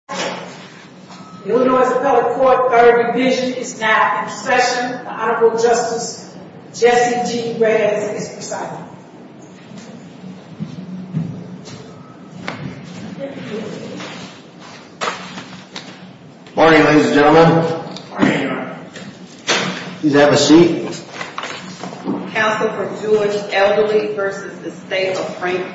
Council for Jewish Elderly v. the State of Frank Kurtz Council for Jewish Elderly v. the State of Frank Council for Jewish Elderly v. the State of Frank Council for Jewish Elderly v. the State of Frank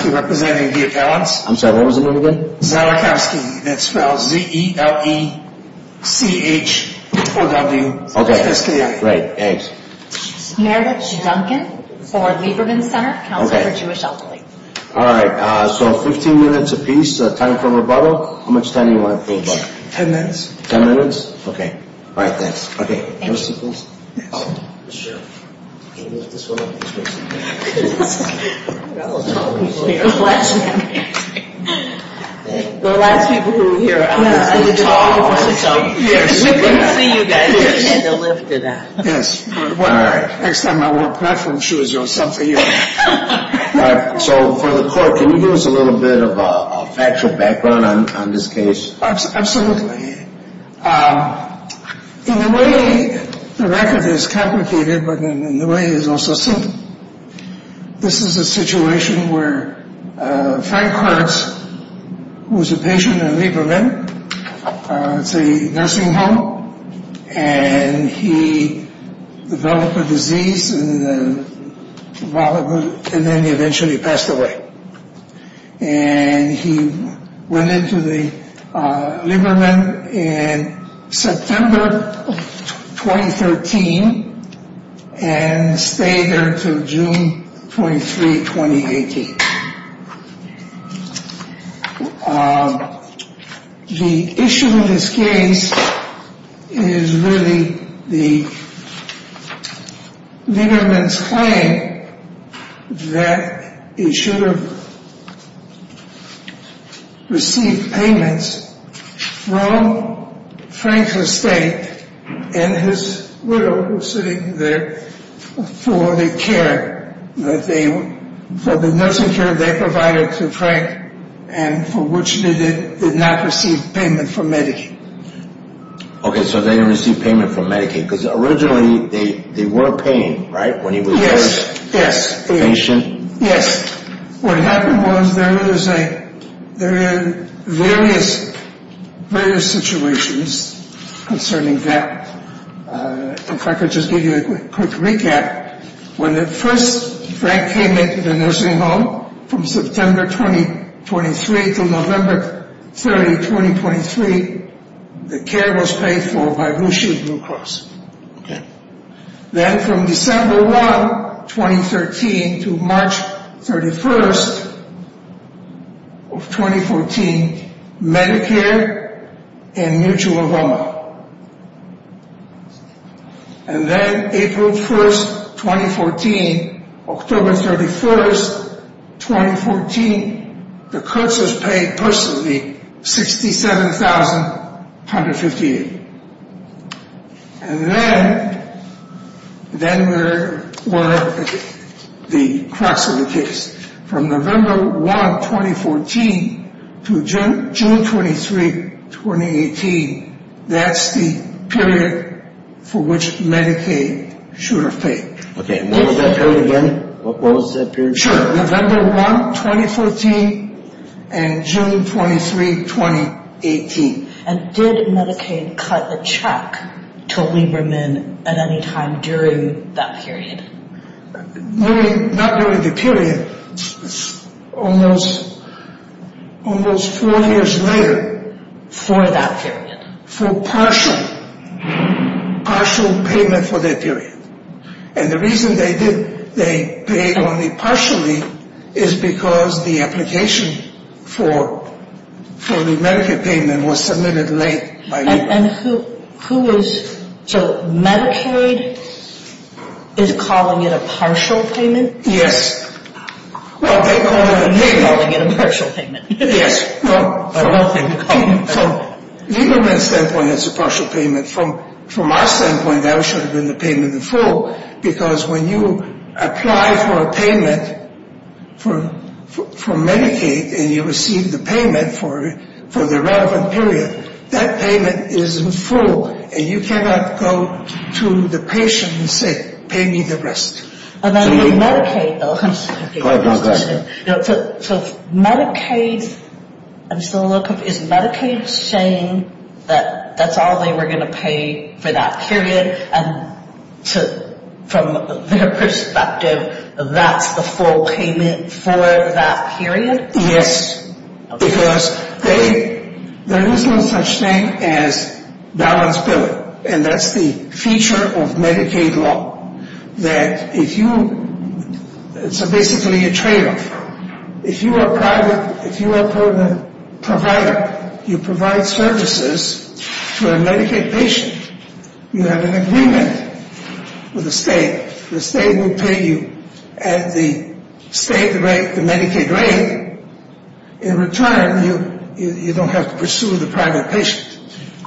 Frank Kurtz was a patient in Lieberman, it's a nursing home, and he developed a disease and then he eventually passed away. And he went into Lieberman in September 2013 and stayed there until June 23, 2018. The issue in this case is really Lieberman's claim that he should have received payments from Frank's estate and his widow who was sitting there for the care, for the nursing care they provided to Frank and for which they did not receive payment from Medicaid. Okay, so they didn't receive payment from Medicaid because originally they were paying, right? Yes, yes. Patient? Yes. What happened was there is a, there is various, various situations concerning that. If I could just give you a quick recap. When at first Frank came into the nursing home from September 2023 to November 30, 2023, the care was paid for by Blue Shoes Blue Cross. Then from December 1, 2013 to March 31, 2014, Medicare and Mutual Roma. And then April 1, 2014, October 31, 2014, the Kurtz's paid personally $67,158. And then, then there were the crux of the case. From November 1, 2014 to June 23, 2018, that's the period for which Medicaid should have paid. Okay, and what was that period again? What was that period? Sure, November 1, 2014 and June 23, 2018. And did Medicaid cut a check to Lieberman at any time during that period? Not during the period, almost four years later. For that period? For partial, partial payment for that period. And the reason they did, they paid only partially is because the application for, for the Medicaid payment was submitted late by Lieberman. And who, who was, so Medicaid is calling it a partial payment? Yes. Well, they called it a payment. They're calling it a partial payment. Yes. From Lieberman's standpoint, it's a partial payment. From, from our standpoint, that should have been the payment in full. Because when you apply for a payment for, for Medicaid and you receive the payment for, for the relevant period, that payment is in full. And you cannot go to the patient and say, pay me the rest. And then with Medicaid, though, Medicaid, I'm still a little confused. Is Medicaid saying that that's all they were going to pay for that period? And to, from their perspective, that's the full payment for that period? Yes. Because they, there is no such thing as balance bill. And that's the feature of Medicaid law. That if you, it's basically a tradeoff. If you are a private, if you are a provider, you provide services to a Medicaid patient. You have an agreement with the state. The state will pay you at the state rate, the Medicaid rate. In return, you, you don't have to pursue the private patient.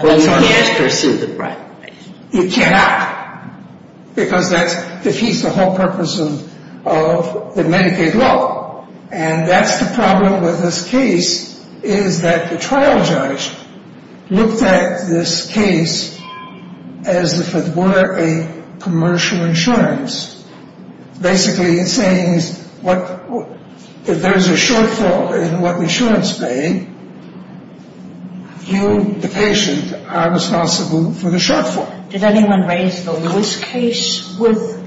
Well, you can't pursue the private patient. You cannot. Because that defeats the whole purpose of, of the Medicaid law. And that's the problem with this case, is that the trial judge looked at this case as if it were a commercial insurance. Basically, it's saying what, if there's a shortfall in what insurance paid, you, the patient, are responsible for the shortfall. Did anyone raise the Lewis case with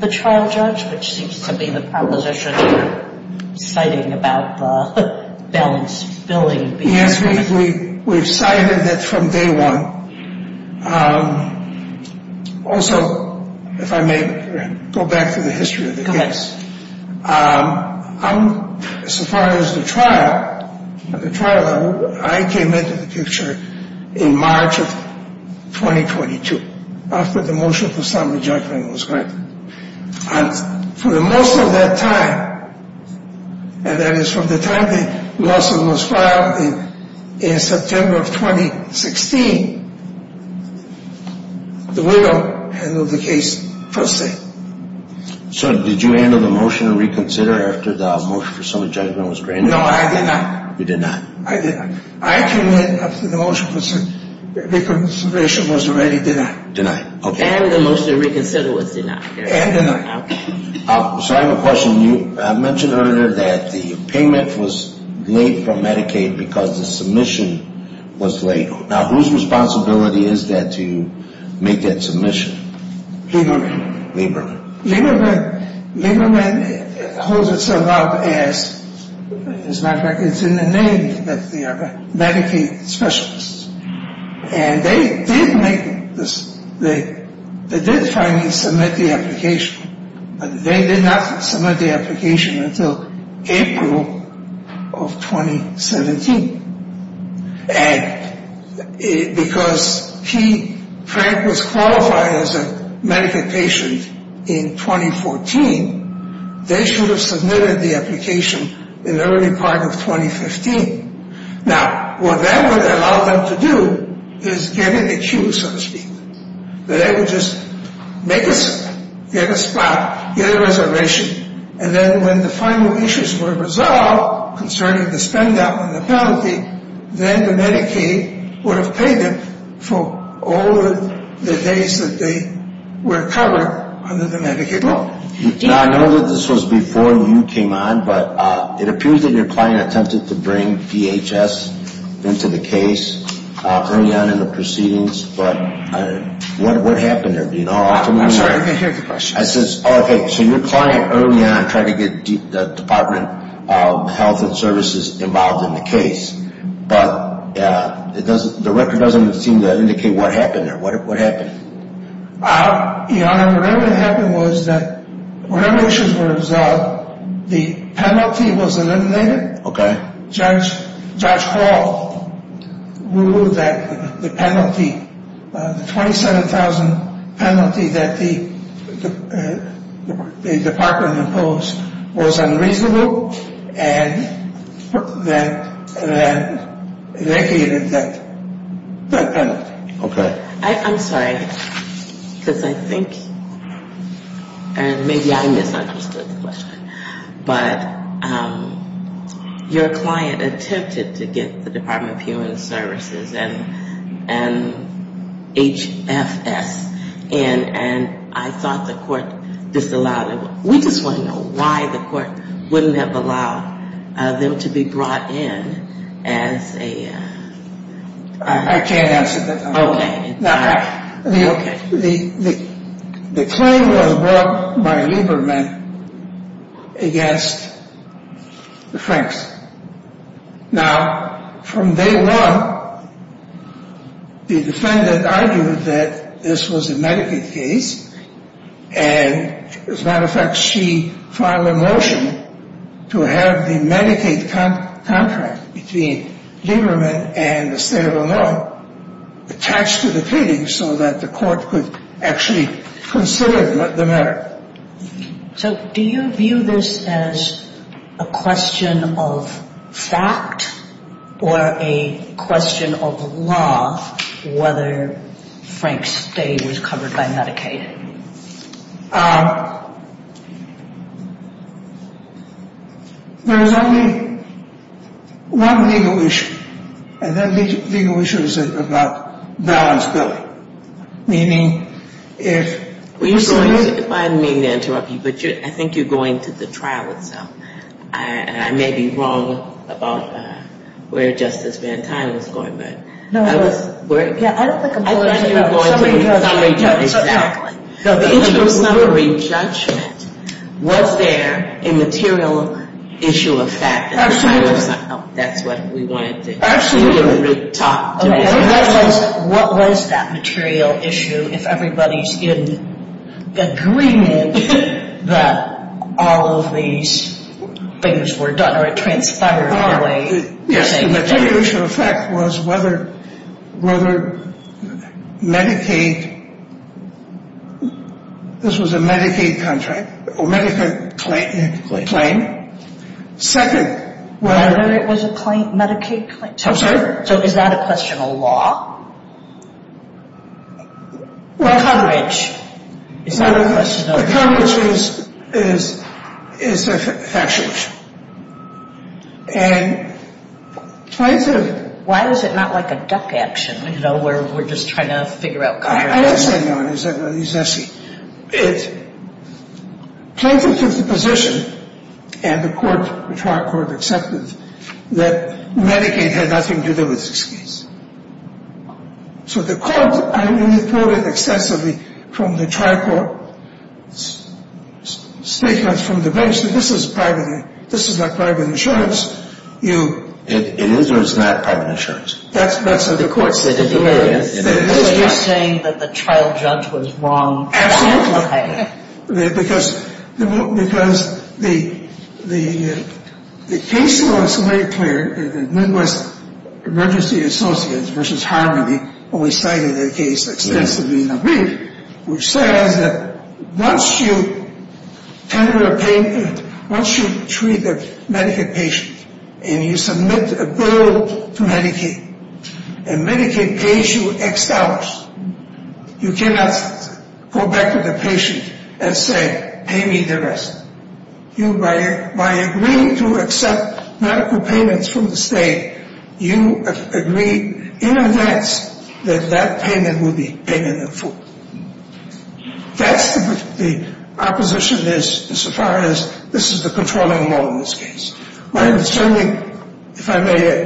the trial judge, which seems to be the proposition you're citing about the balance billing. Yes, we, we've cited it from day one. Also, if I may go back to the history of the case. Okay. I'm, so far as the trial, the trial level, I came into the picture in March of 2022, after the motion for summary judgment was granted. And for the most of that time, and that is from the time the lawsuit was filed in September of 2016, the widow handled the case first thing. So did you handle the motion to reconsider after the motion for summary judgment was granted? No, I did not. You did not? I did not. I came in after the motion for reconsideration was already denied. Denied. Okay. And the motion to reconsider was denied. And denied. Okay. So I have a question. You, I mentioned earlier that the payment was late for Medicaid because the submission was late. Now, whose responsibility is that to make that submission? Lieberman. Lieberman. Lieberman, Lieberman holds itself up as, as a matter of fact, it's in the name that they are Medicaid specialists. And they did make, they did finally submit the application, but they did not submit the application until April of 2017. And because he, Frank, was qualified as a Medicaid patient in 2014, they should have submitted the application in the early part of 2015. Now, what that would allow them to do is get in a queue, so to speak. They would just make a, get a spot, get a reservation. And then when the final issues were resolved concerning the spend out and the penalty, then the Medicaid would have paid them for all the days that they were covered under the Medicaid law. Now, I know that this was before you came on, but it appears that your client attempted to bring DHS into the case early on in the proceedings. But what happened there? I'm sorry, I can't hear the question. I said, okay, so your client early on tried to get the Department of Health and Services involved in the case. But it doesn't, the record doesn't seem to indicate what happened there. What happened? Your Honor, what really happened was that when the issues were resolved, the penalty was eliminated. Okay. Judge Hall ruled that the penalty, the $27,000 penalty that the department imposed was unreasonable and then negated that penalty. Okay. I'm sorry, because I think, and maybe I misunderstood the question, but your client attempted to get the Department of Human Services and HFS. And I thought the court disallowed it. We just want to know why the court wouldn't have allowed them to be brought in as a. I can't answer that. Okay. The claim was brought by Lieberman against the Franks. Now, from day one, the defendant argued that this was a Medicaid case. And as a matter of fact, she filed a motion to have the Medicaid contract between Lieberman and the state of Illinois attached to the claim so that the court could actually consider the matter. So do you view this as a question of fact or a question of law, whether Frank's stay was covered by Medicaid? There is only one legal issue, and that legal issue is about balance billing, meaning if. I didn't mean to interrupt you, but I think you're going to the trial itself. I may be wrong about where Justice Van Tine was going, but. No, I was. I thought you were going to the summary judgment. No, the interim summary judgment. Was there a material issue of fact? That's what we wanted to hear you talk to me about. What was that material issue if everybody's in agreement that all of these things were done or it transpired in a way? Yes, the material issue of fact was whether Medicaid, this was a Medicaid contract, or Medicaid claim. Second. Whether it was a Medicaid claim. So is that a question of law? Well. Coverage. Is that a question of law? Coverage is a factual issue. And plaintiff. Why is it not like a duck action, you know, where we're just trying to figure out coverage? I understand, Your Honor. It plaintiff took the position and the court, the trial court accepted that Medicaid had nothing to do with this case. So the court, I mean, pulled it extensively from the trial court statements from the bench that this is private. This is not private insurance. It is or it's not private insurance? That's what the court said at the hearing. So you're saying that the trial judge was wrong? Absolutely. Okay. Because the case was made clear in Midwest Emergency Associates versus Harmony when we cited the case extensively in a brief, which says that once you treat a Medicaid patient and you submit a bill to Medicaid, and Medicaid pays you X dollars, you cannot go back to the patient and say, pay me the rest. By agreeing to accept medical payments from the state, you agree in advance that that payment will be payment in full. That's what the opposition is so far as this is the controlling law in this case. My understanding, if I may,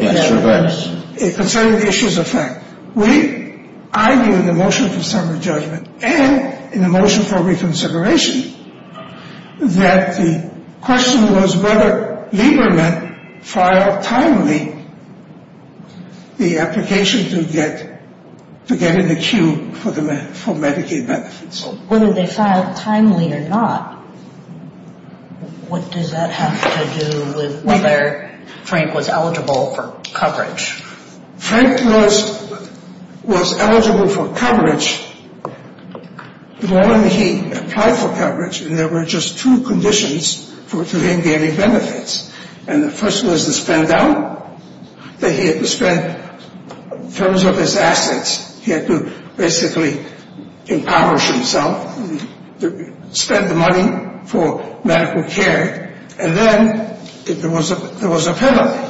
concerning the issues of fact, we argue in the motion for summary judgment and in the motion for reconsideration that the question was whether Lieberman filed timely the application to get in the queue for Medicaid benefits. Whether they filed timely or not, what does that have to do with whether Frank was eligible for coverage? Frank was eligible for coverage when he applied for coverage, and there were just two conditions for him getting benefits. And the first was to spend out, that he had to spend in terms of his assets. He had to basically impoverish himself, spend the money for medical care, and then there was a penalty.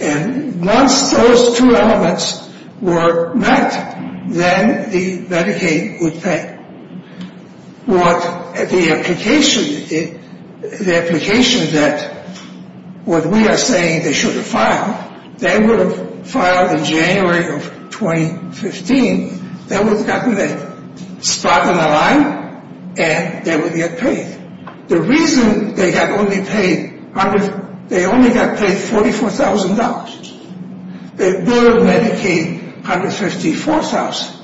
And once those two elements were met, then the Medicaid would pay. The application that we are saying they should have filed, they would have filed in January of 2015. They would have gotten a spot on the line, and they would get paid. The reason they only got paid $44,000, they would have Medicaid $154,000.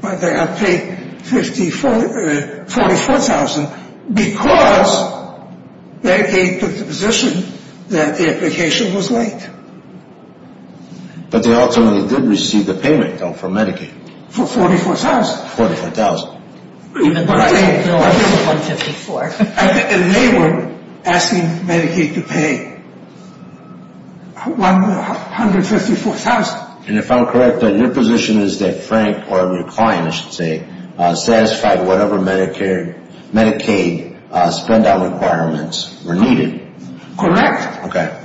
But they got paid $44,000 because Medicaid took the position that the application was late. But they ultimately did receive the payment, though, for Medicaid. For $44,000. For $44,000. And if I'm correct, then your position is that Frank or your client, I should say, satisfied whatever Medicaid spendout requirements were needed. Correct. Okay.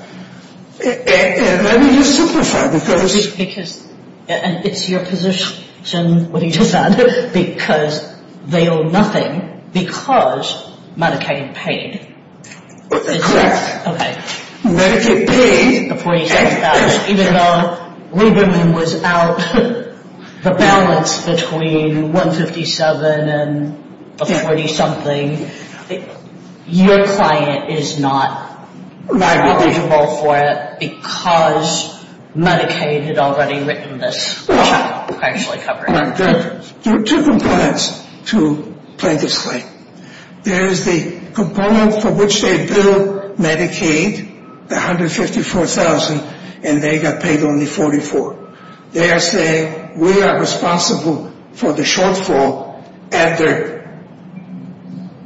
And let me just simplify, because... Because it's your position, what he just said, because they owe nothing because Medicaid paid. Correct. Okay. Even though Lieberman was out, the balance between $157,000 and $40-something, your client is not eligible for it because Medicaid had already written this, which I actually covered. There are two components to plaintiff's claim. There is the component for which they billed Medicaid, the $154,000, and they got paid only $44,000. They are saying, we are responsible for the shortfall at their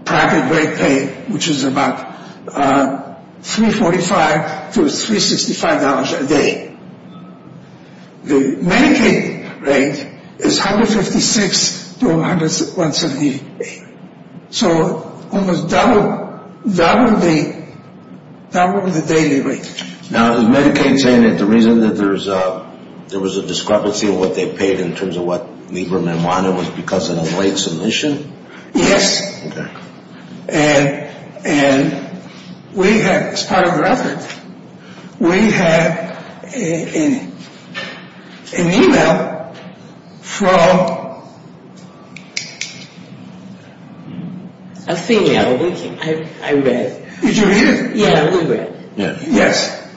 private rate pay, which is about $345 to $365 a day. The Medicaid rate is $156 to $178. So almost double the daily rate. Now, is Medicaid saying that the reason that there was a discrepancy in what they paid in terms of what Lieberman wanted was because of the late submission? Yes. Okay. And we have, as part of our efforts, we have an email from... A female, I read. Did you read it? Yeah, we read it. Yes.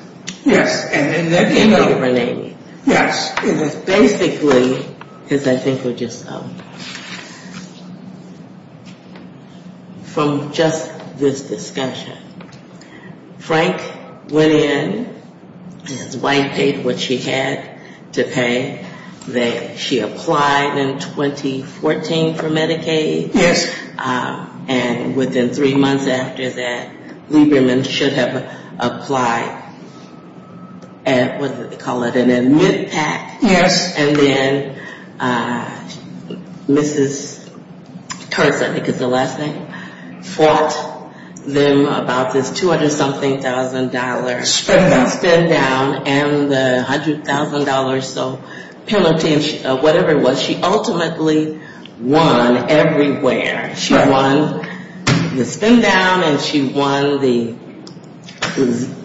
Yes. Email related. Yes. It was basically, because I think we're just... From just this discussion, Frank went in, his wife paid what she had to pay. She applied in 2014 for Medicaid. Yes. And within three months after that, Lieberman should have applied at, what do they call it, an admit pack. Yes. And then Mrs. Curzon, I think is the last name, fought them about this $200-something-thousand... Spendout. Spendout, and the $100,000 or so penalty, whatever it was. But she ultimately won everywhere. She won the spendout and she won the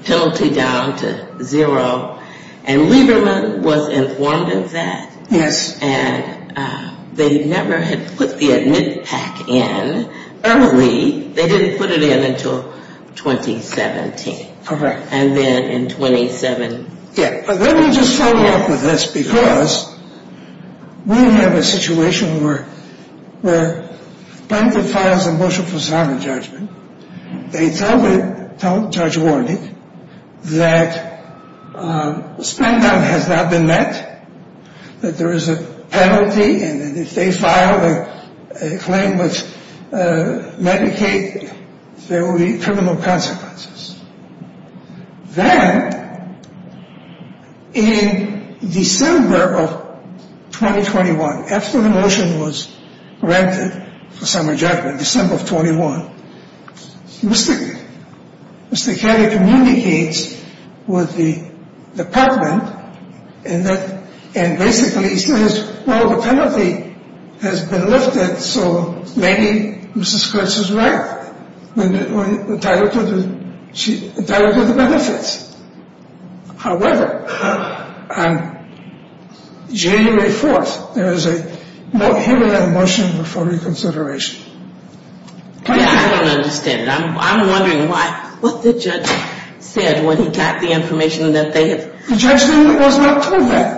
penalty down to zero. And Lieberman was informed of that. Yes. And they never had put the admit pack in early. They didn't put it in until 2017. Correct. And then in 2017... Let me just follow up with this, because we have a situation where Plaintiff files a motion for solemn judgment. They tell Judge Warnick that spendout has not been met, that there is a penalty, and if they file a claim with Medicaid, there will be criminal consequences. Then, in December of 2021, after the motion was granted for solemn judgment, December of 21, Mr. Kelly communicates with the department and basically says, Well, the penalty has been lifted, so maybe Mrs. Kurtz is right. We entitled her to the benefits. However, on January 4th, there is a motion for reconsideration. I don't understand. I'm wondering what the judge said when he got the information that they had... The judge was not told that.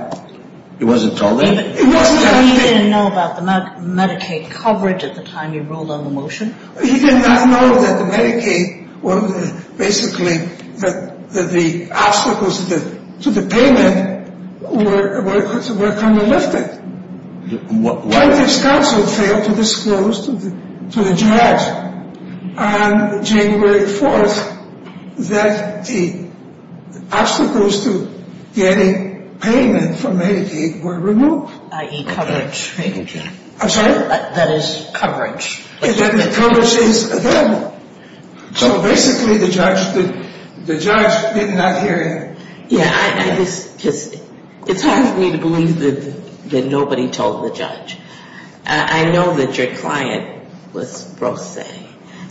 He wasn't told that? He didn't know about the Medicaid coverage at the time you rolled out the motion? He did not know that the Medicaid was basically that the obstacles to the payment were kind of lifted. Plaintiff's counsel failed to disclose to the judge on January 4th that the obstacles to getting payment from Medicaid were removed. I.e. coverage. I'm sorry? That is coverage. And that the coverage is available. So, basically, the judge did not hear him. It's hard for me to believe that nobody told the judge. I know that your client was pro se,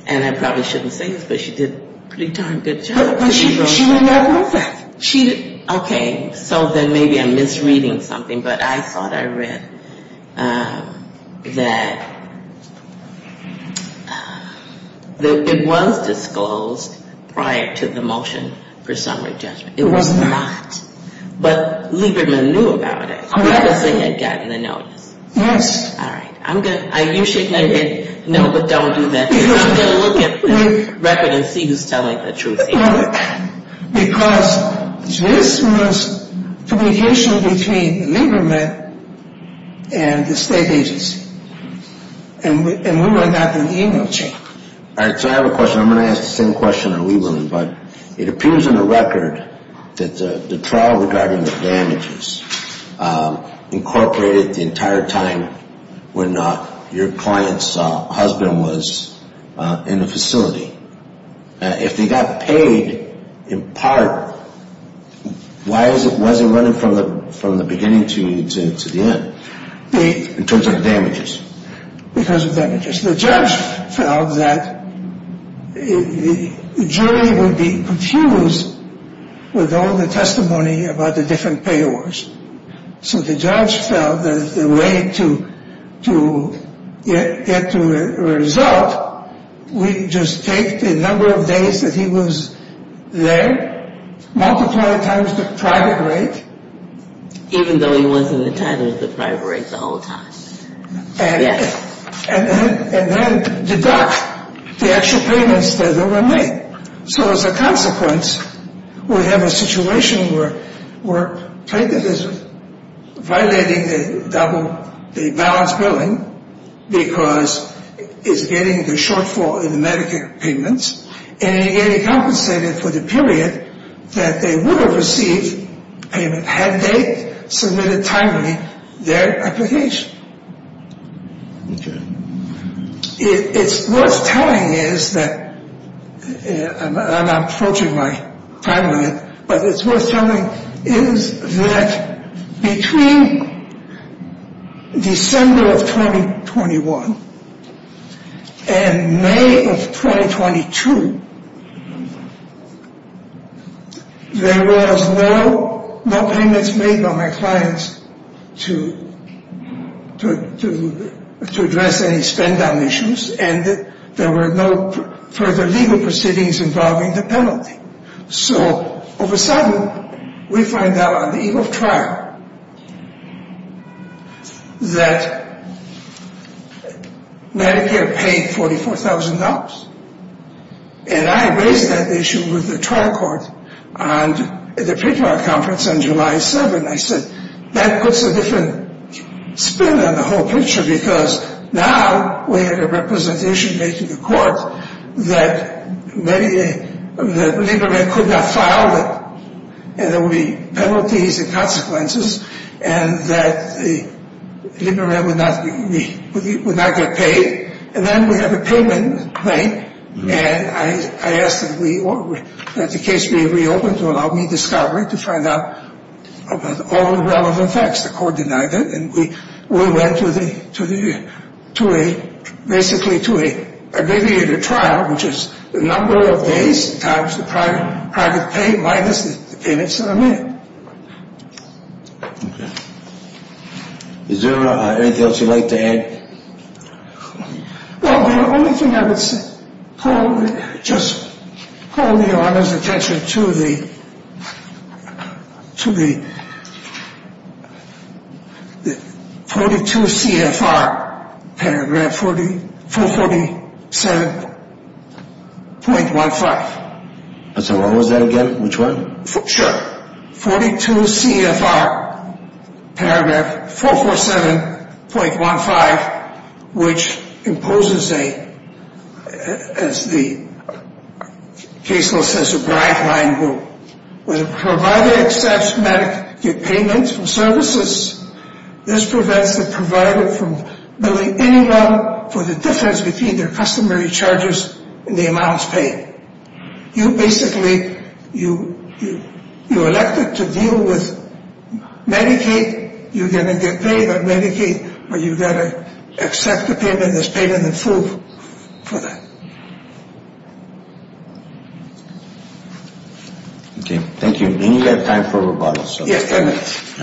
and I probably shouldn't say this, but she did a pretty darn good job. She did not know that. Okay. So then maybe I'm misreading something, but I thought I read that it was disclosed prior to the motion for summary judgment. It was not. But Lieberman knew about it because they had gotten the notice. Yes. All right. You should know, but don't do that. I'm going to look at the record and see who's telling the truth anyway. Because this was communication between Lieberman and the state agency, and we were not in the email chain. All right. So I have a question. I'm going to ask the same question on Lieberman, but it appears in the record that the trial regarding the damages incorporated the entire time when your client's husband was in the facility. If they got paid in part, why was it running from the beginning to the end in terms of the damages? Because of damages. The judge felt that the jury would be confused with all the testimony about the different payors. So the judge felt that the way to get to a result would just take the number of days that he was there, multiply it times the private rate. Even though he wasn't entitled to the private rate the whole time. Yes. And then deduct the actual payments that were made. So as a consequence, we have a situation where plaintiff is violating the balance billing because it's getting the shortfall in the Medicare payments, and it's getting compensated for the period that they would have received payment had they submitted timely their application. Okay. It's worth telling is that, and I'm approaching my time limit, but it's worth telling is that between December of 2021 and May of 2022, there was no payments made by my clients to address any spend-down issues, and there were no further legal proceedings involving the penalty. So all of a sudden, we find out on the eve of trial that Medicare paid $44,000. And I raised that issue with the trial court at the paper conference on July 7th. And I said, that puts a different spin on the whole picture, because now we have a representation made to the court that Liberman could not file, and there would be penalties and consequences, and that Liberman would not get paid. And then we have a payment made, and I asked that the case be reopened to allow me discovery to find out about all the relevant facts. The court denied it, and we went to basically to an abbreviated trial, which is the number of days times the private pay minus the payments that are made. Okay. Is there anything else you'd like to add? Well, the only thing I would say, just call your Honor's attention to the 42 CFR paragraph 447.15. So what was that again? Which one? Sure. 42 CFR paragraph 447.15, which imposes a, as the case law says, a bright line rule. When a provider accepts Medicaid payments from services, this prevents the provider from billing anyone for the difference between their customary charges and the amounts paid. You basically, you're elected to deal with Medicaid, you're going to get paid on Medicaid, or you've got to accept the payment as payment in full for that. Okay. Thank you. We only have time for rebuttals. Yes, there is.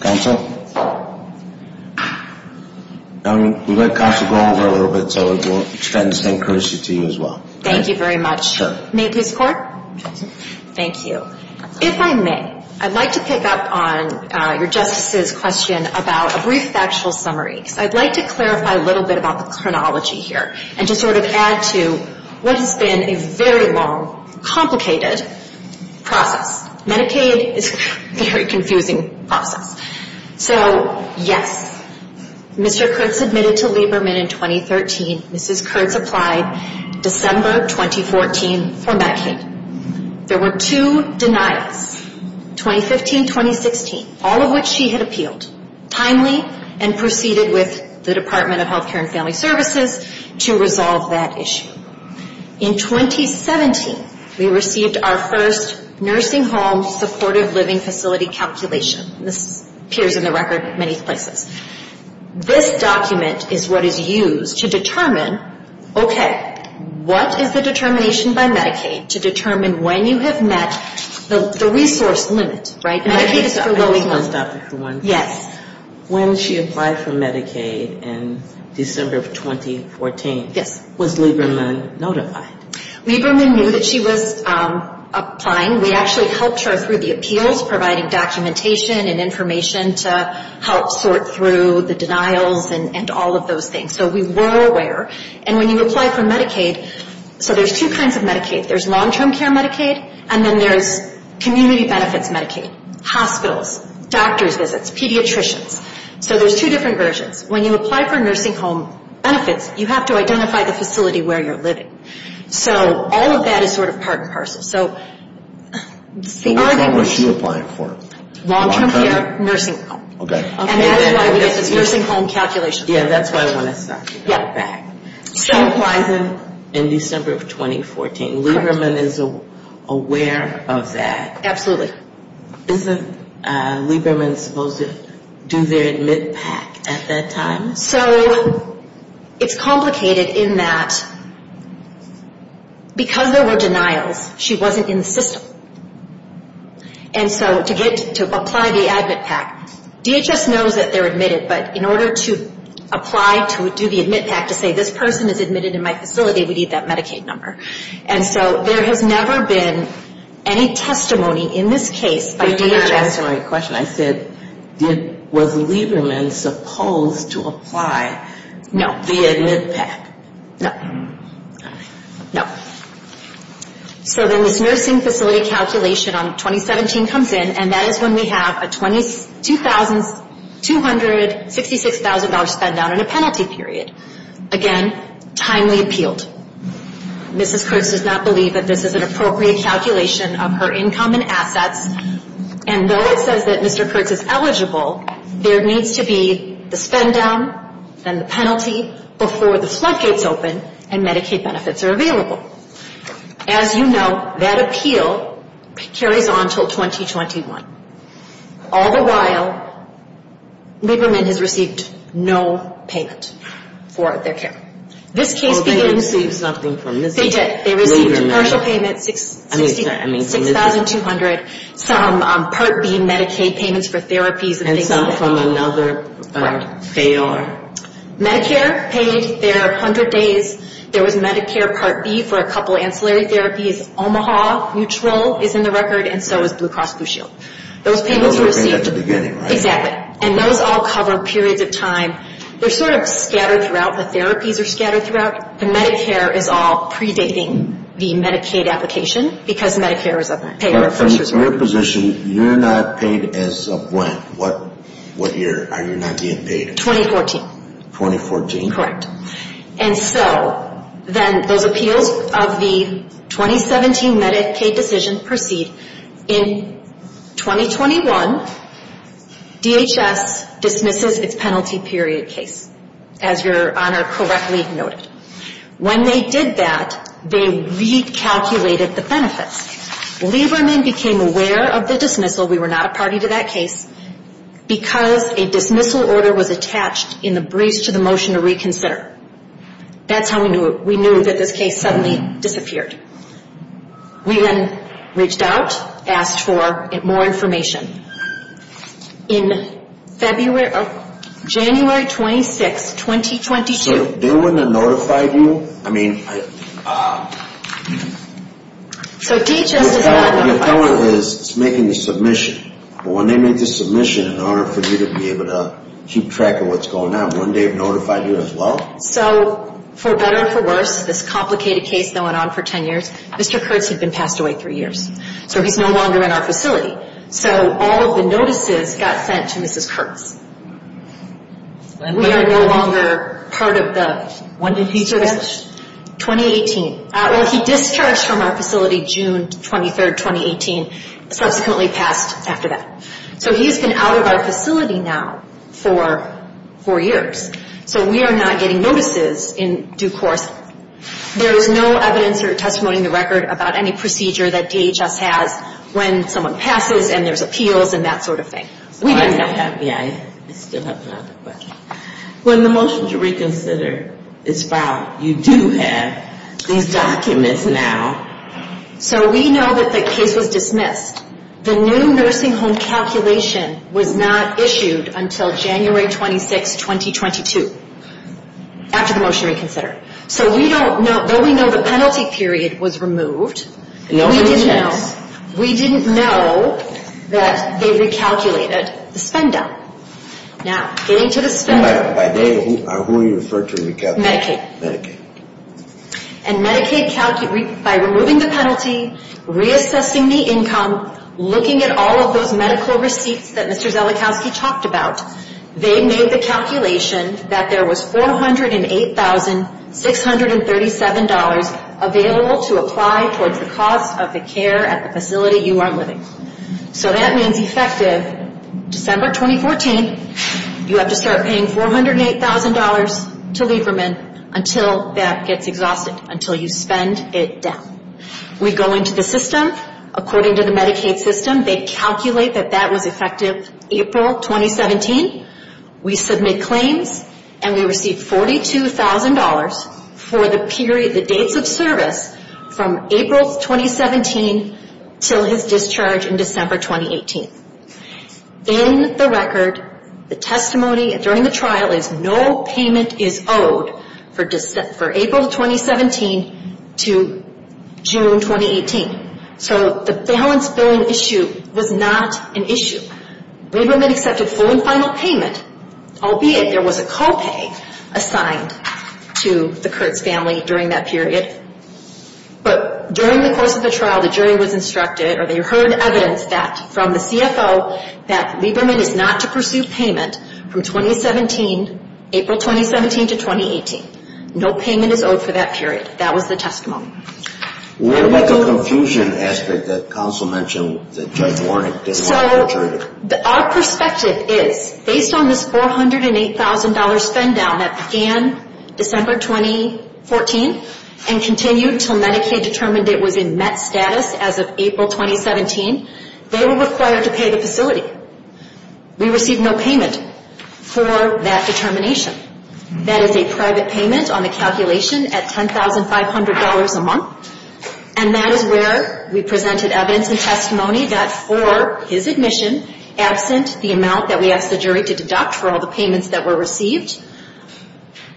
Counsel? We let counsel go over it a little bit, so we'll extend the same courtesy to you as well. Thank you very much. Sure. Thank you. If I may, I'd like to pick up on your Justice's question about a brief factual summary. I'd like to clarify a little bit about the chronology here and just sort of add to what has been a very long, complicated process. Medicaid is a very confusing process. So, yes, Mr. Kurtz admitted to Lieberman in 2013. Mrs. Kurtz applied December 2014 for Medicaid. There were two denials, 2015-2016, all of which she had appealed timely and proceeded with the Department of Health Care and Family Services to resolve that issue. In 2017, we received our first nursing home supportive living facility calculation. This appears in the record in many places. This document is what is used to determine, okay, what is the determination by Medicaid to determine when you have met the resource limit, right? Medicaid is for low income. I just want to stop you for one second. Yes. When she applied for Medicaid in December of 2014, was Lieberman notified? Lieberman knew that she was applying. We actually helped her through the appeals, providing documentation and information to help sort through the denials and all of those things. So we were aware. And when you apply for Medicaid, so there's two kinds of Medicaid. There's long-term care Medicaid, and then there's community benefits Medicaid, hospitals, doctor's visits, pediatricians. So there's two different versions. When you apply for nursing home benefits, you have to identify the facility where you're living. So all of that is sort of part and parcel. So the argument is... Which one was she applying for? Long-term care nursing home. Okay. And that's why we get this nursing home calculation. Yeah, that's why I want to stop you. She applied in December of 2014. Lieberman is aware of that. Absolutely. Isn't Lieberman supposed to do their admit pack at that time? So it's complicated in that because there were denials, she wasn't in the system. And so to get to apply the admit pack, DHS knows that they're admitted, but in order to apply to do the admit pack, to say this person is admitted in my facility, we need that Medicaid number. And so there has never been any testimony in this case by DHS. I forgot to ask you a question. I said, was Lieberman supposed to apply the admit pack? No. No. All right. No. So then this nursing facility calculation on 2017 comes in, and that is when we have a $22,000, $266,000 spend-down and a penalty period. Again, timely appealed. Mrs. Kurtz does not believe that this is an appropriate calculation of her income and assets. And though it says that Mr. Kurtz is eligible, there needs to be the spend-down, then the penalty before the floodgates open and Medicaid benefits are available. As you know, that appeal carries on until 2021. All the while, Lieberman has received no payment for their care. This case begins. Well, they received something from Ms. Lieberman. They did. They received a partial payment, $6,200, some Part B Medicaid payments for therapies and things like that. From another payor. Medicare paid their 100 days. There was Medicare Part B for a couple ancillary therapies. Omaha neutral is in the record, and so is Blue Cross Blue Shield. Those payments were received. Those were paid at the beginning, right? Exactly. And those all cover periods of time. They're sort of scattered throughout. The therapies are scattered throughout. The Medicare is all predating the Medicaid application because Medicare is a payor. In your position, you're not paid as of when? What year are you not being paid? 2014. 2014? Correct. And so then those appeals of the 2017 Medicaid decision proceed. In 2021, DHS dismisses its penalty period case, as Your Honor correctly noted. When they did that, they recalculated the benefits. Lieberman became aware of the dismissal. We were not a party to that case. Because a dismissal order was attached in the briefs to the motion to reconsider. That's how we knew it. We knew that this case suddenly disappeared. We then reached out, asked for more information. In January 26, 2022. So they wouldn't have notified you? I mean. So DHS does not notify you. It's making the submission. When they make the submission, in order for you to be able to keep track of what's going on, wouldn't they have notified you as well? So for better or for worse, this complicated case that went on for 10 years, Mr. Kurtz had been passed away three years. So he's no longer in our facility. So all of the notices got sent to Mrs. Kurtz. We are no longer part of the. When did he discharge? 2018. Well, he discharged from our facility June 23, 2018. Subsequently passed after that. So he's been out of our facility now for four years. So we are not getting notices in due course. There is no evidence or testimony in the record about any procedure that DHS has when someone passes and there's appeals and that sort of thing. Yeah, I still have another question. When the motion to reconsider is filed, you do have these documents now. So we know that the case was dismissed. The new nursing home calculation was not issued until January 26, 2022, after the motion to reconsider. So we don't know. Though we know the penalty period was removed. We didn't know that they recalculated the spend down. Now, getting to the spend down. By who are you referring to? Medicaid. Medicaid. And Medicaid, by removing the penalty, reassessing the income, looking at all of those medical receipts that Mr. Zelikowski talked about, they made the calculation that there was $408,637 available to apply towards the cost of the care at the facility you are living. So that means effective December 2014, you have to start paying $408,000 to Lieberman until that gets exhausted, until you spend it down. We go into the system. According to the Medicaid system, they calculate that that was effective April 2017. We submit claims and we receive $42,000 for the period, the dates of service from April 2017 until his discharge in December 2018. In the record, the testimony during the trial is no payment is owed for April 2017 to June 2018. So the balance billing issue was not an issue. Lieberman accepted full and final payment, albeit there was a co-pay assigned to the Kurtz family during that period. But during the course of the trial, the jury was instructed or they heard evidence from the CFO that Lieberman is not to pursue payment from April 2017 to 2018. No payment is owed for that period. That was the testimony. What about the confusion aspect that counsel mentioned, that Judge Warnick didn't want to return it? Our perspective is, based on this $408,000 spend down that began December 2014 and continued until Medicaid determined it was in met status as of April 2017, they were required to pay the facility. We received no payment for that determination. That is a private payment on the calculation at $10,500 a month, and that is where we presented evidence and testimony that for his admission, absent the amount that we asked the jury to deduct for all the payments that were received,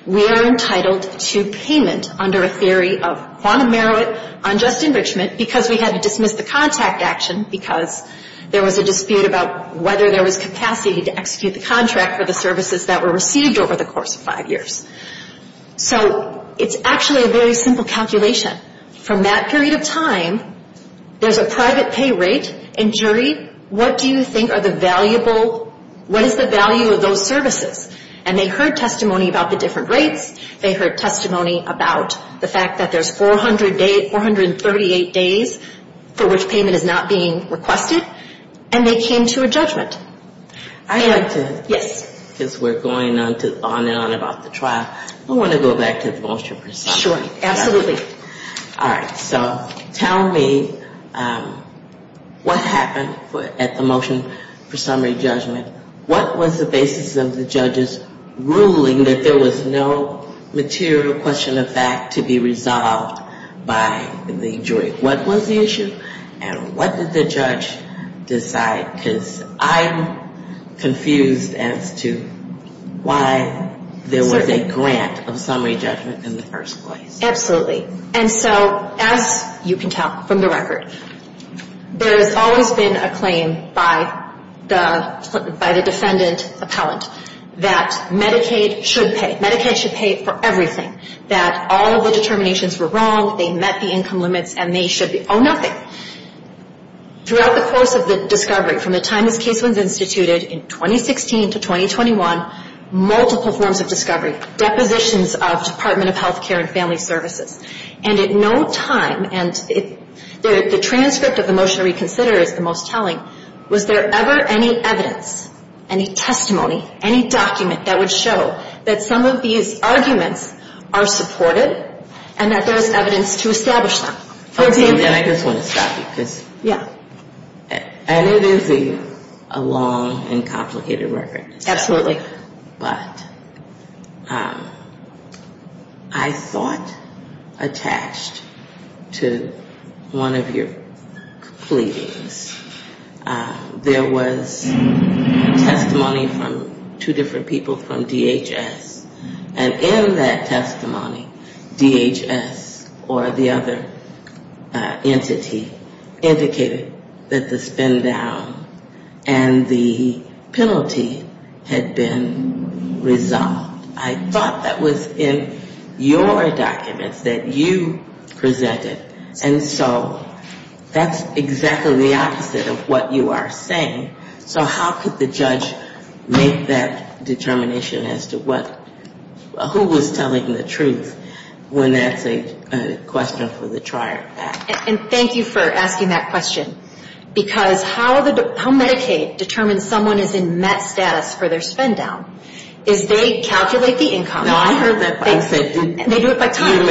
we are entitled to payment under a theory of quantum merit, unjust enrichment, because we had to dismiss the contact action because there was a dispute about whether there was capacity to execute the contract for the services that were received over the course of five years. So it's actually a very simple calculation. From that period of time, there's a private pay rate, and jury, what do you think are the valuable, what is the value of those services? And they heard testimony about the different rates. They heard testimony about the fact that there's 438 days for which payment is not being requested, and they came to a judgment. I'd like to, because we're going on and on about the trial, I want to go back to the motion for summary. Sure. Absolutely. All right. So tell me what happened at the motion for summary judgment. What was the basis of the judges' ruling that there was no material question of fact to be resolved by the jury? What was the issue, and what did the judge decide? Because I'm confused as to why there was a grant of summary judgment in the first place. Absolutely. And so as you can tell from the record, there has always been a claim by the defendant appellant that Medicaid should pay. Medicaid should pay for everything, that all of the determinations were wrong, they met the income limits, and they should owe nothing. Throughout the course of the discovery, from the time this case was instituted in 2016 to 2021, multiple forms of discovery, depositions of Department of Health Care and Family Services, and at no time, and the transcript of the motion to reconsider is the most telling, was there ever any evidence, any testimony, any document that would show that some of these arguments are supported and that there's evidence to establish them? And I just want to stop you. Yeah. And it is a long and complicated record. Absolutely. But I thought attached to one of your pleadings, there was testimony from two different people from DHS, and in that testimony, DHS or the other entity indicated that the spin down and the penalty had been resolved. I thought that was in your documents that you presented, and so that's exactly the opposite of what you are saying. So how could the judge make that determination as to who was telling the truth when that's a question for the Trier Act? And thank you for asking that question, because how Medicaid determines someone is in met status for their spin down is they calculate the income. No, I heard that. They do it by time.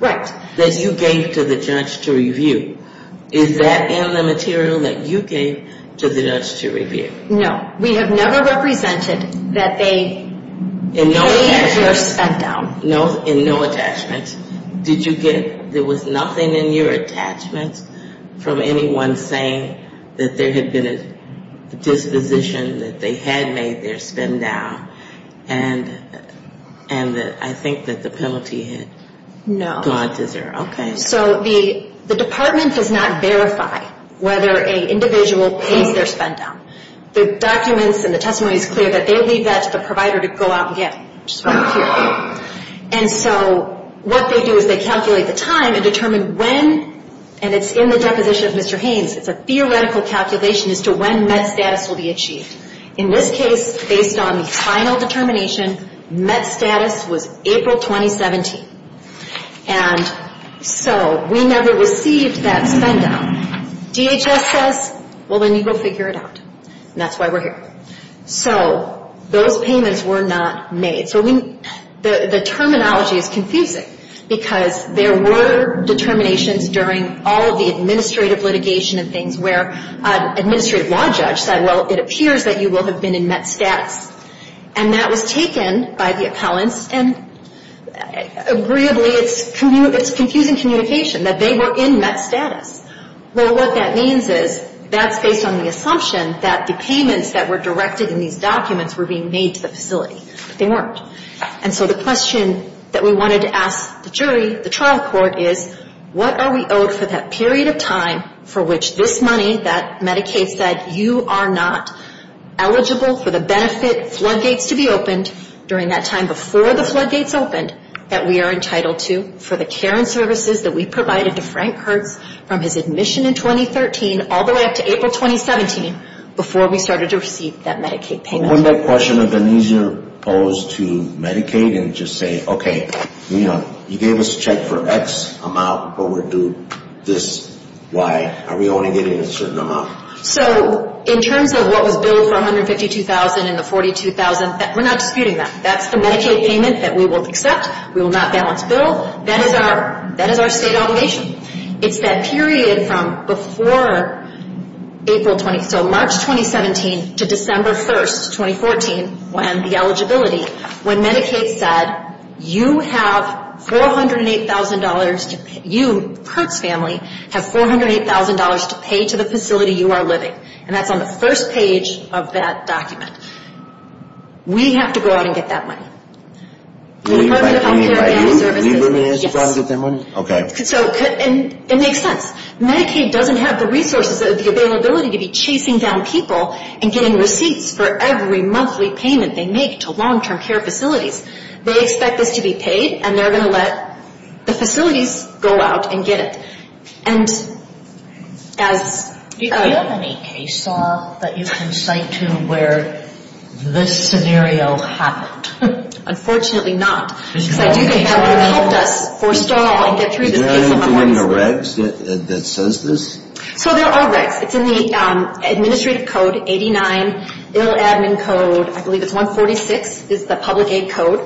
Right. That you gave to the judge to review. Is that in the material that you gave to the judge to review? No. We have never represented that they made their spin down. In no attachments? No. In no attachments. Did you get, there was nothing in your attachments from anyone saying that there had been a disposition, that they had made their spin down, and that I think that the penalty had gone to zero? No. Okay. So the department does not verify whether an individual pays their spin down. The documents and the testimony is clear that they leave that to the provider to go out and get it, which is what I'm here for. And so what they do is they calculate the time and determine when, and it's in the deposition of Mr. Haynes, it's a theoretical calculation as to when met status will be achieved. In this case, based on the final determination, met status was April 2017. And so we never received that spin down. DHS says, well, then you go figure it out. And that's why we're here. So those payments were not made. So the terminology is confusing because there were determinations during all of the administrative litigation and things where an administrative law judge said, well, it appears that you will have been in met status. And that was taken by the appellants, and agreeably, it's confusing communication that they were in met status. Well, what that means is that's based on the assumption that the payments that were directed in these documents were being made to the facility. They weren't. And so the question that we wanted to ask the jury, the trial court, is what are we owed for that period of time for which this money that Medicaid said you are not eligible for the benefit, floodgates to be opened, during that time before the floodgates opened, that we are entitled to for the care and services that we provided to Frank Hertz from his admission in 2013 all the way up to April 2017 before we started to receive that Medicaid payment? Wouldn't that question have been easier posed to Medicaid and just say, okay, you gave us a check for X amount, but we're due this Y, are we only getting a certain amount? So in terms of what was billed for $152,000 and the $42,000, we're not disputing that. That's the Medicaid payment that we will accept. We will not balance bill. That is our state obligation. It's that period from before April 20, so March 2017 to December 1, 2014, when the eligibility, when Medicaid said you have $408,000 to pay, you, Hertz family, have $408,000 to pay to the facility you are living. And that's on the first page of that document. We have to go out and get that money. The Department of Health Care and Family Services. Yes. Okay. And it makes sense. Medicaid doesn't have the resources or the availability to be chasing down people and getting receipts for every monthly payment they make to long-term care facilities. They expect this to be paid, and they're going to let the facilities go out and get it. And as ‑‑ Do you have any case law that you can cite to where this scenario happened? Unfortunately not. Because I do think that would have helped us forestall and get through this piece of the puzzle. Is there anything in the regs that says this? So there are regs. It's in the Administrative Code 89, Ill Admin Code, I believe it's 146, is the Public Aid Code.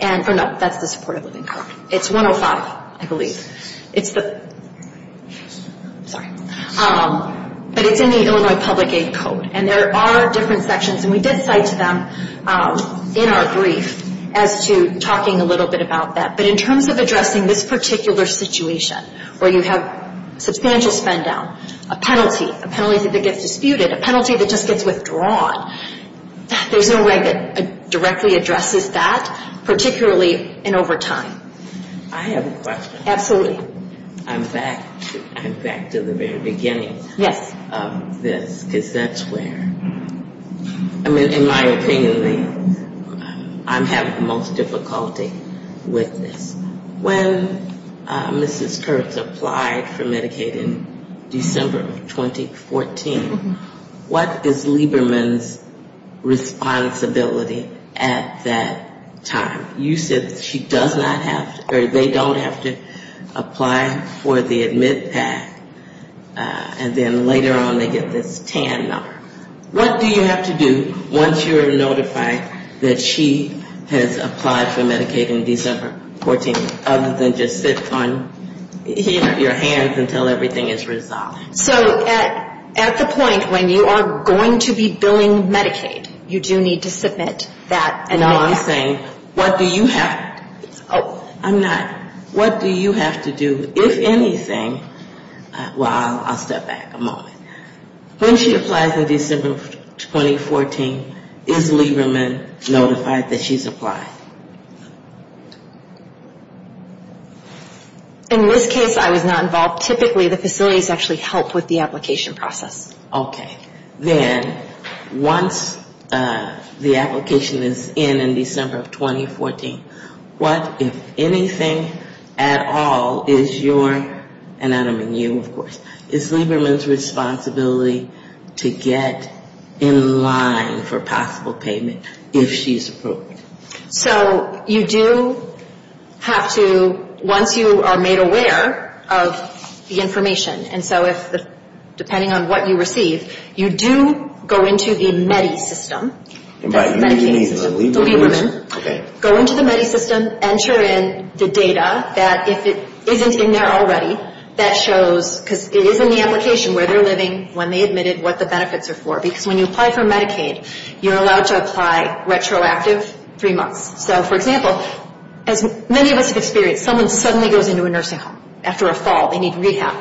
No, that's the Supportive Living Code. It's 105, I believe. It's the ‑‑ sorry. But it's in the Illinois Public Aid Code. And there are different sections, and we did cite to them in our brief as to talking a little bit about that. But in terms of addressing this particular situation where you have substantial spend down, a penalty, a penalty that gets disputed, a penalty that just gets withdrawn, there's no reg that directly addresses that, particularly in overtime. I have a question. Absolutely. I'm back to the very beginning of this. Because that's where, I mean, in my opinion, I'm having the most difficulty with this. When Mrs. Kurtz applied for Medicaid in December of 2014, what is Lieberman's responsibility at that time? You said she does not have ‑‑ or they don't have to apply for the admit pack, and then later on they get this TAN number. What do you have to do once you are notified that she has applied for Medicaid in December of 2014, other than just sit on your hands until everything is resolved? So at the point when you are going to be billing Medicaid, you do need to submit that. No, I'm saying what do you have ‑‑ I'm not. What do you have to do, if anything ‑‑ well, I'll step back a moment. When she applies in December of 2014, is Lieberman notified that she's applied? In this case I was not involved. Typically the facilities actually help with the application process. Okay. Then once the application is in in December of 2014, what, if anything at all, is your ‑‑ and I don't mean you, of course. Is Lieberman's responsibility to get in line for possible payment if she's approved? So you do have to, once you are made aware of the information, and so if, depending on what you receive, you do go into the MEDI system. Go into the MEDI system, enter in the data that, if it isn't in there already, that shows, because it is in the application where they are living when they admitted what the benefits are for. Because when you apply for Medicaid, you are allowed to apply retroactive three months. So, for example, as many of us have experienced, someone suddenly goes into a nursing home. After a fall, they need rehab.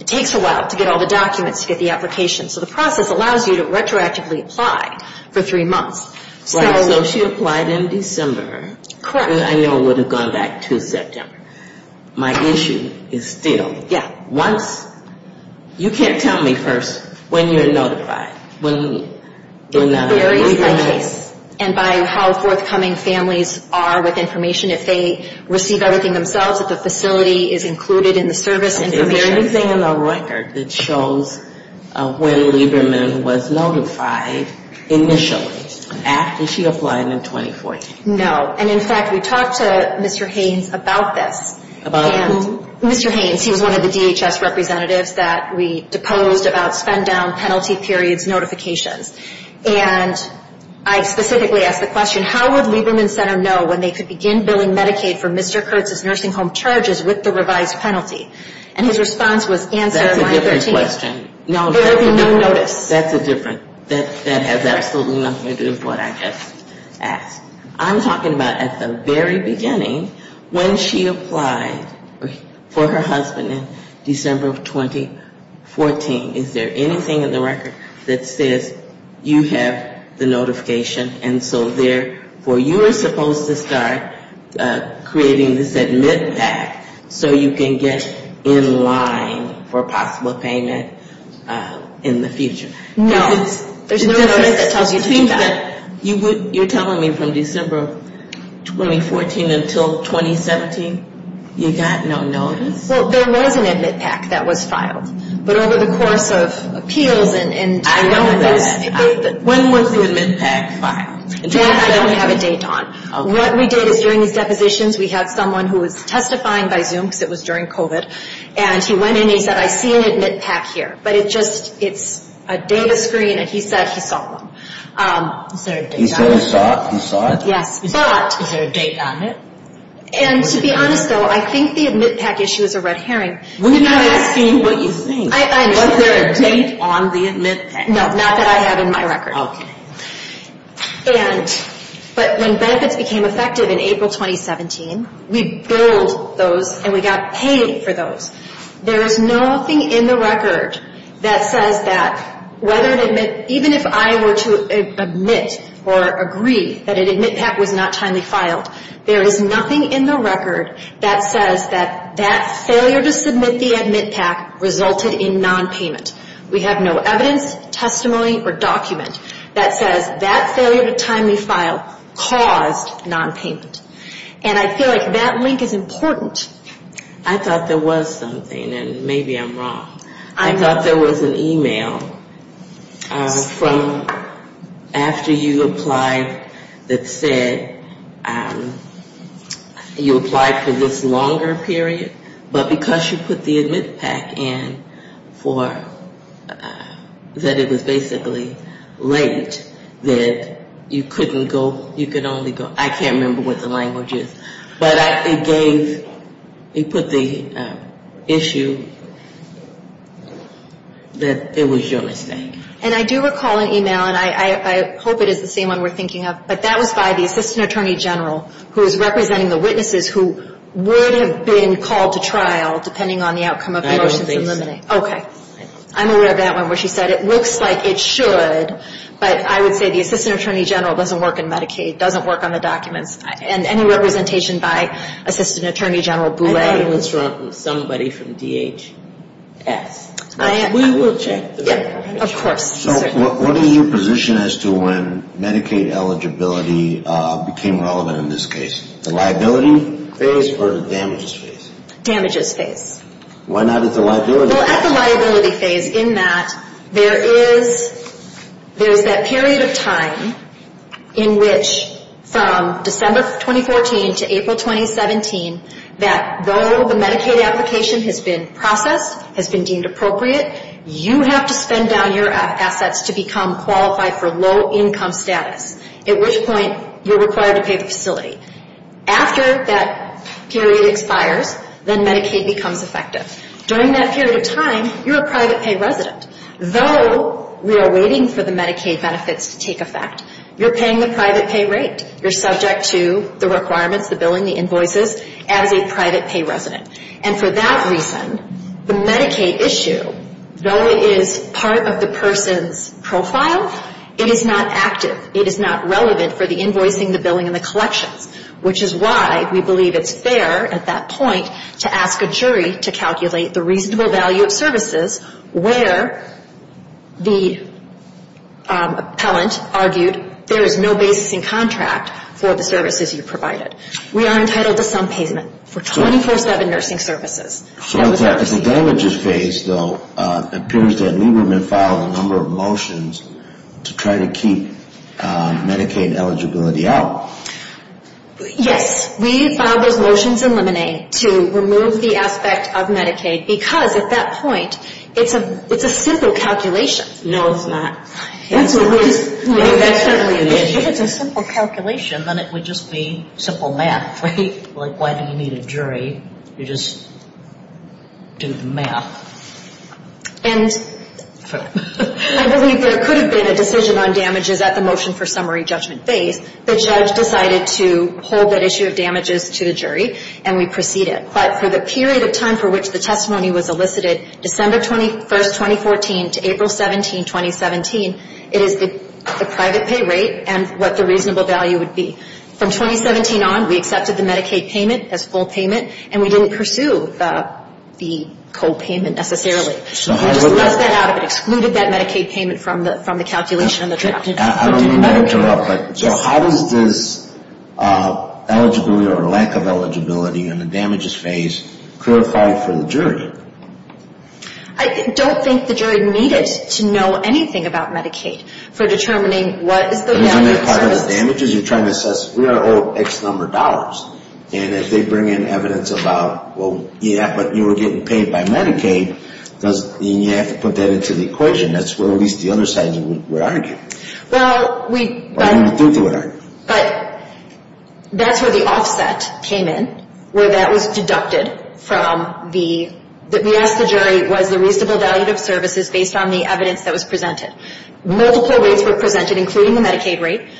It takes a while to get all the documents, to get the application. So the process allows you to retroactively apply for three months. Right, so she applied in December. Correct. I know it would have gone back to September. My issue is still, once, you can't tell me first when you're notified. It varies by case, and by how forthcoming families are with information. If they receive everything themselves, if the facility is included in the service information. Is there anything in the record that shows when Lieberman was notified initially, after she applied in 2014? No, and in fact, we talked to Mr. Haynes about this. About who? Mr. Haynes, he was one of the DHS representatives that we deposed about spend-down penalty periods notifications. And I specifically asked the question, how would Lieberman Center know when they could begin billing Medicaid for Mr. Kurtz's nursing home charges with the revised penalty? And his response was answer line 13. That's a different question. There would be no notice. That's a different, that has absolutely nothing to do with what I just asked. I'm talking about at the very beginning, when she applied for her husband in December of 2014. Is there anything in the record that says you have the notification? And so there, for you are supposed to start creating this admit pack, so you can get in line for possible payment in the future. No, there's no notice that tells you to do that. You're telling me from December of 2014 until 2017, you got no notice? Well, there was an admit pack that was filed, but over the course of appeals and I know that. When was the admit pack filed? I don't have a date on. What we did is during these depositions, we had someone who was testifying by Zoom, because it was during COVID. And he went in and he said, I see an admit pack here, but it just, it's a data screen and he said he saw one. Is there a date on it? And to be honest, though, I think the admit pack issue is a red herring. We're not asking what you think. Was there a date on the admit pack? No, not that I have in my record. But when benefits became effective in April 2017, we billed those and we got paid for those. There is nothing in the record that says that whether it admit, even if I were to admit or agree that an admit pack was not timely filed, there is nothing in the record that says that that failure to submit the admit pack resulted in nonpayment. We have no evidence, testimony, or document that says that failure to timely file caused nonpayment. And I feel like that link is important. I thought there was something, and maybe I'm wrong. I thought there was an email from after you applied that said you applied for this longer period, but because you put the admit pack in, for, I don't know. That it was basically late, that you couldn't go, you could only go, I can't remember what the language is. But it gave, it put the issue that it was your mistake. And I do recall an email, and I hope it is the same one we're thinking of, but that was by the assistant attorney general who is representing the witnesses who would have been called to trial depending on the outcome of the motions. Okay. I'm aware of that one where she said it looks like it should, but I would say the assistant attorney general doesn't work in Medicaid, doesn't work on the documents, and any representation by assistant attorney general Boulay. I thought it was from somebody from DHS. We will check. Of course. What is your position as to when Medicaid eligibility became relevant in this case? The liability phase or the damages phase? Damages phase. Why not at the liability phase? Well, at the liability phase in that there is that period of time in which from December 2014 to April 2017, that though the Medicaid application has been processed, has been deemed appropriate, you have to spend down your application. You have to spend down your assets to become qualified for low income status, at which point you're required to pay the facility. After that period expires, then Medicaid becomes effective. During that period of time, you're a private pay resident. Though we are waiting for the Medicaid benefits to take effect, you're paying the private pay rate. You're subject to the requirements, the billing, the invoices, as a private pay resident. And for that reason, the Medicaid issue, though it is part of the person's profile, it is not active. It is not relevant for the invoicing, the billing, and the collections, which is why we believe it's fair at that point to ask a jury to calculate the reasonable value of services where the appellant argued there is no basis in contract for the services you provided. We are entitled to some payment for 24-7 nursing services. So as the damages phase, though, it appears that Lieberman filed a number of motions to try to keep Medicaid eligibility out. Yes, we filed those motions in Lemonade to remove the aspect of Medicaid, because at that point, it's a simple calculation. No, it's not. If it's a simple calculation, then it would just be simple math, right? Like, why do you need a jury? You just do the math. And I believe there could have been a decision on damages at the motion for summary judgment phase. The judge decided to hold that issue of damages to the jury, and we proceeded. But for the period of time for which the testimony was elicited, December 21, 2014, to April 17, 2017, it is not relevant. It is the private pay rate and what the reasonable value would be. From 2017 on, we accepted the Medicaid payment as full payment, and we didn't pursue the copayment necessarily. We just left that out of it, excluded that Medicaid payment from the calculation and the draft. I didn't interrupt, but so how does this eligibility or lack of eligibility in the damages phase clarify for the jury? I don't think the jury needed to know anything about Medicaid for determining what is the benefit service. Isn't that part of the damages? You're trying to assess, we're owed X number of dollars, and if they bring in evidence about, well, yeah, but you were getting paid by Medicaid, then you have to put that into the equation. That's where at least the other sides would argue. But that's where the offset came in, where that was deducted from the payment. What we asked the jury was the reasonable value of services based on the evidence that was presented. Multiple rates were presented, including the Medicaid rate.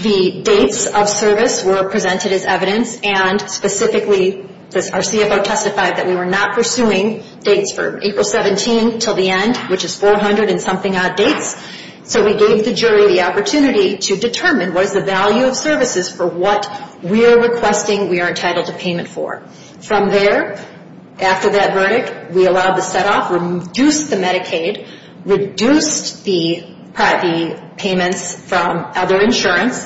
The dates of service were presented as evidence, and specifically, our CFO testified that we were not pursuing dates for April 17 until the end, which is 400 and something odd dates. So we gave the jury the opportunity to determine what is the value of services for what we're requesting we are entitled to payment for. From there, after that verdict, we allowed the set-off, reduced the Medicaid, reduced the payments from other insurance.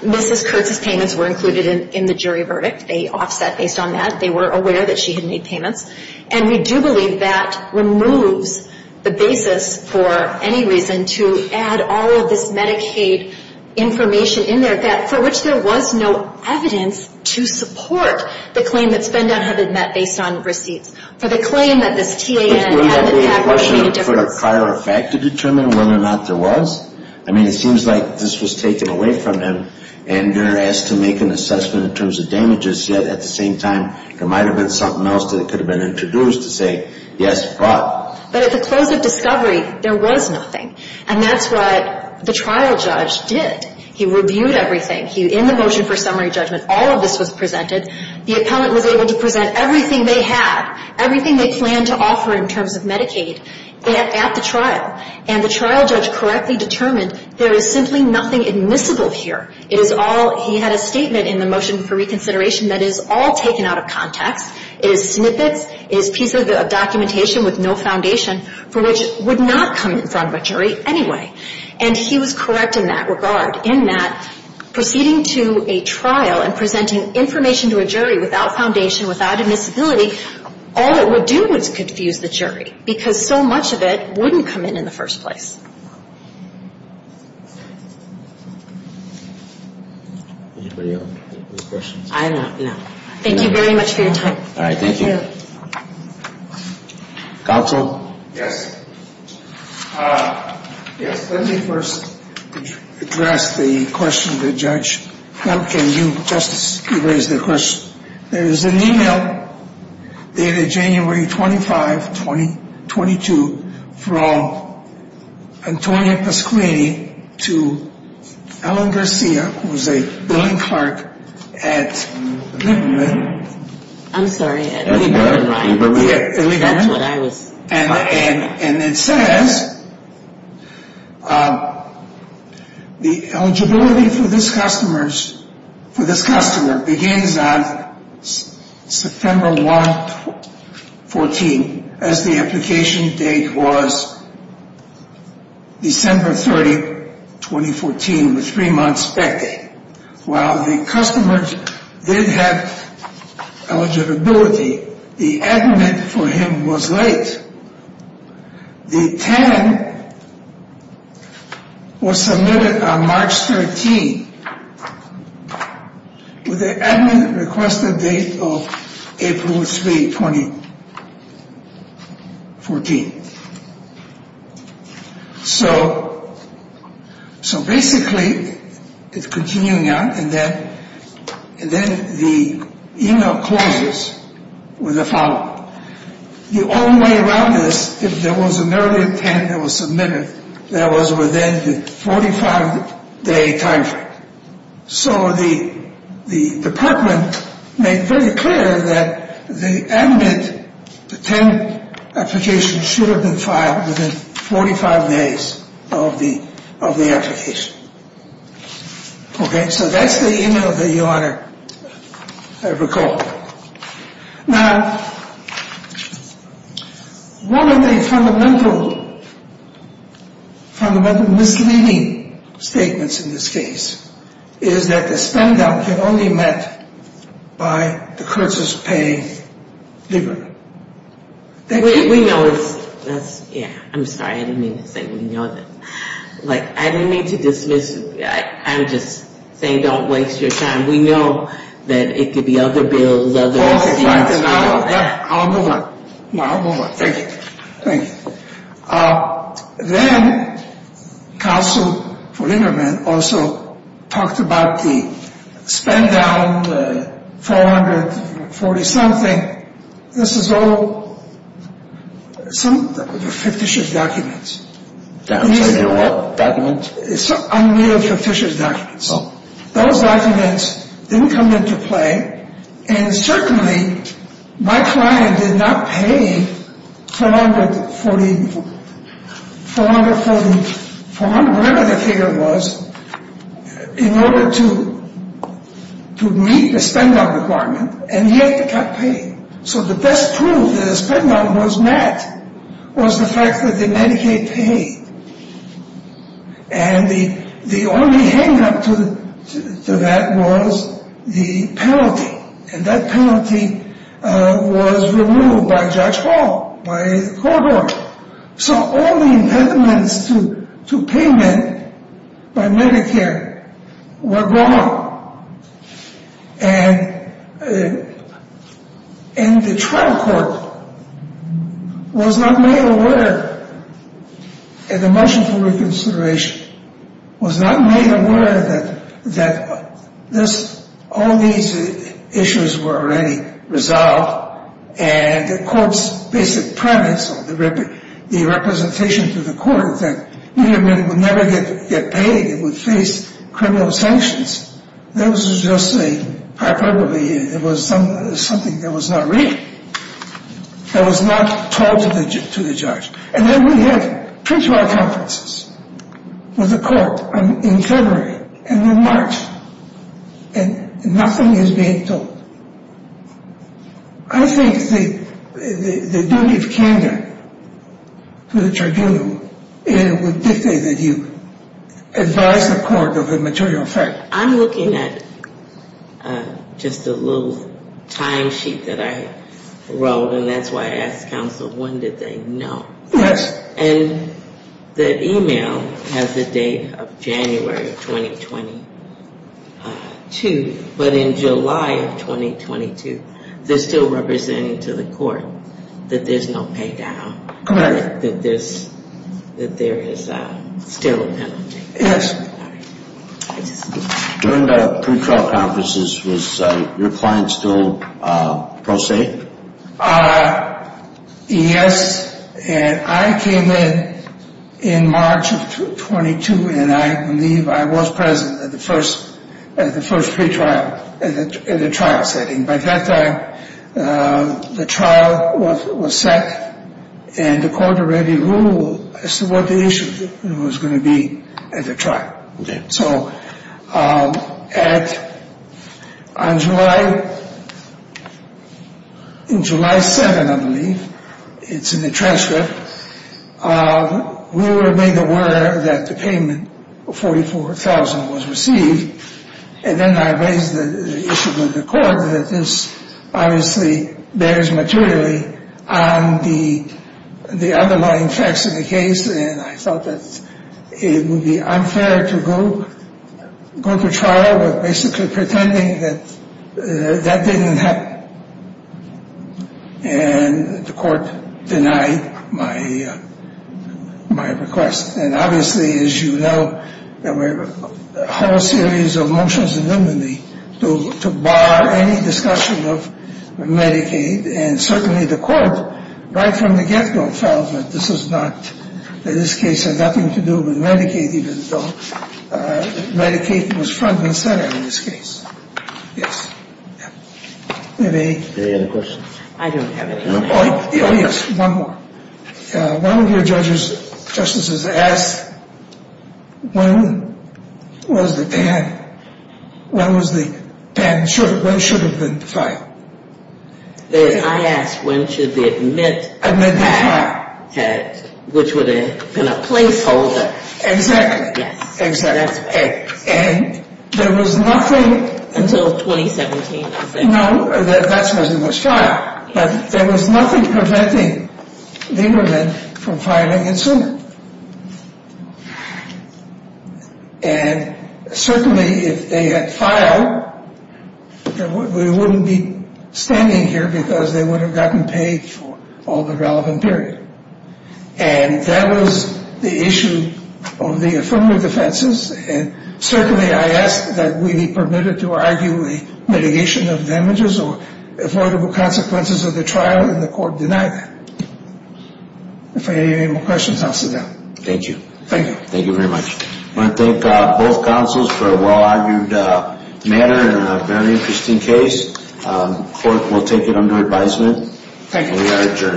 Mrs. Kurtz's payments were included in the jury verdict. They offset based on that. They were aware that she had made payments. And we do believe that removes the basis for any reason to add all of this Medicaid information in there for which there was no evidence to support the claim that SpendDown had been met based on receipts, for the claim that this TAN hadn't had much of a difference. I mean, it seems like this was taken away from them, and they're asked to make an assessment in terms of damages, yet at the same time, there might have been something else that could have been introduced to say, yes, but. But at the close of discovery, there was nothing. And that's what the trial judge did. He reviewed everything. In the motion for summary judgment, all of this was presented. The appellant was able to present everything they had, everything they planned to offer in terms of Medicaid at the trial. And the trial judge correctly determined there is simply nothing admissible here. It is all he had a statement in the motion for reconsideration that is all taken out of context. It is snippets. It is pieces of documentation with no foundation for which would not come in front of a jury anyway. And he was correct in that regard, in that proceeding to a trial and presenting information to a jury without foundation, without admissibility, all it would do is confuse the jury, because so much of it wouldn't come in in the first place. Anybody else have questions? I'm not, no. Thank you very much for your time. All right. Thank you. Counsel? Yes. Yes, let me first address the question to the judge. How can you, Justice, you raised the question. There is an e-mail dated January 25, 2022 from Antonia Pasquini to Alan Garcia, who is a billing clerk at Littman. I'm sorry. And it says the eligibility for this customer begins on September 1, 2014, as the application date was December 30, 2014, three months back. While the customer did have eligibility, the admin for him was late. The TAN was submitted on March 13, with the admin requested date of April 3, 2014. So basically, it's continuing on, and then the e-mail closes with the following. The only way around this, if there was an early TAN that was submitted, that was within the 45-day time frame. So the department made very clear that the admin, the TAN application should have been filed within 45 days of the application. Okay? So that's the e-mail that you want to recall. Now, one of the fundamental misleading statements in this case is that the spend-down can only be met by the curses of paying dividends. We know it's, yeah, I'm sorry, I didn't mean to say we know that. Like, I didn't mean to dismiss, I'm just saying don't waste your time. We know that it could be other bills. I'll move on. Thank you. Then, counsel for Littman also talked about the spend-down, the 440-something, this is all, some fictitious documents. Unneeded fictitious documents. Those documents didn't come into play, and certainly my client did not pay 440, whatever the figure was, in order to meet the spend-down requirement, and he had to cut pay. So the best proof that the spend-down was met was the fact that the Medicaid paid. And the only hang-up to that was the penalty, and that penalty was removed by Judge Hall, by the court order. So all the impediments to payment by Medicare were gone. And the trial court was not made aware, in the motion for reconsideration, was not made aware that this, all these issues were already resolved, and the court's basic premise, or the representation to the court, was that Medicare would never get paid, it would face criminal sanctions. That was just a hyperbole, it was something that was not real. That was not told to the judge. And then we had pre-trial conferences with the court in February and in March, and nothing is being told. I think the duty of candor to the tribunal would dictate that you advise the court of a material fact. I'm looking at just a little timesheet that I wrote, and that's why I asked counsel, when did they know? And the email has the date of January of 2022, but in July of 2022, they're still representing to the court that there's no pay-down, that there is still a penalty. During the pre-trial conferences, was your client still pro se? Yes, and I came in in March of 22, and I believe I was present at the first pre-trial, at the trial setting. By that time, the trial was set, and the court already ruled as to what the issue was going to be at the trial. So on July, in July 7, I believe, it's in the transcript, we were made aware that the payment of $44,000 was received, and then I raised the issue with the court that this obviously bears materially on the underlying facts of the case, and I thought that it would be unfair to go to trial with basically pretending that that didn't happen. And the court denied my request. And obviously, as you know, there were a whole series of motions anonymously to bar any discussion of Medicaid, and certainly the court, right from the get-go, felt that this is not, that this case had nothing to do with Medicaid, even though Medicaid was front and center in this case. Yes. Any other questions? I don't have any. Oh, yes, one more. One of your judges, justices, asked when was the ban, when was the ban, when should it have been filed. I asked when should the admit Admit the file. Which would have been a placeholder. Exactly. Yes. Exactly. And there was nothing Until 2017. No, that's when it was filed. But there was nothing preventing the immigrant from filing it sooner. And certainly if they had filed, we wouldn't be standing here because they would have gotten paid for all the relevant period. And that was the issue of the affirmative defenses. And certainly I asked that we be permitted to argue a mitigation of damages or affordable consequences of the trial, and the court denied that. If you have any more questions, I'll sit down. Thank you. Thank you. Thank you very much. I want to thank both counsels for a well-argued matter and a very interesting case. The court will take it under advisement. Thank you. And we are adjourned.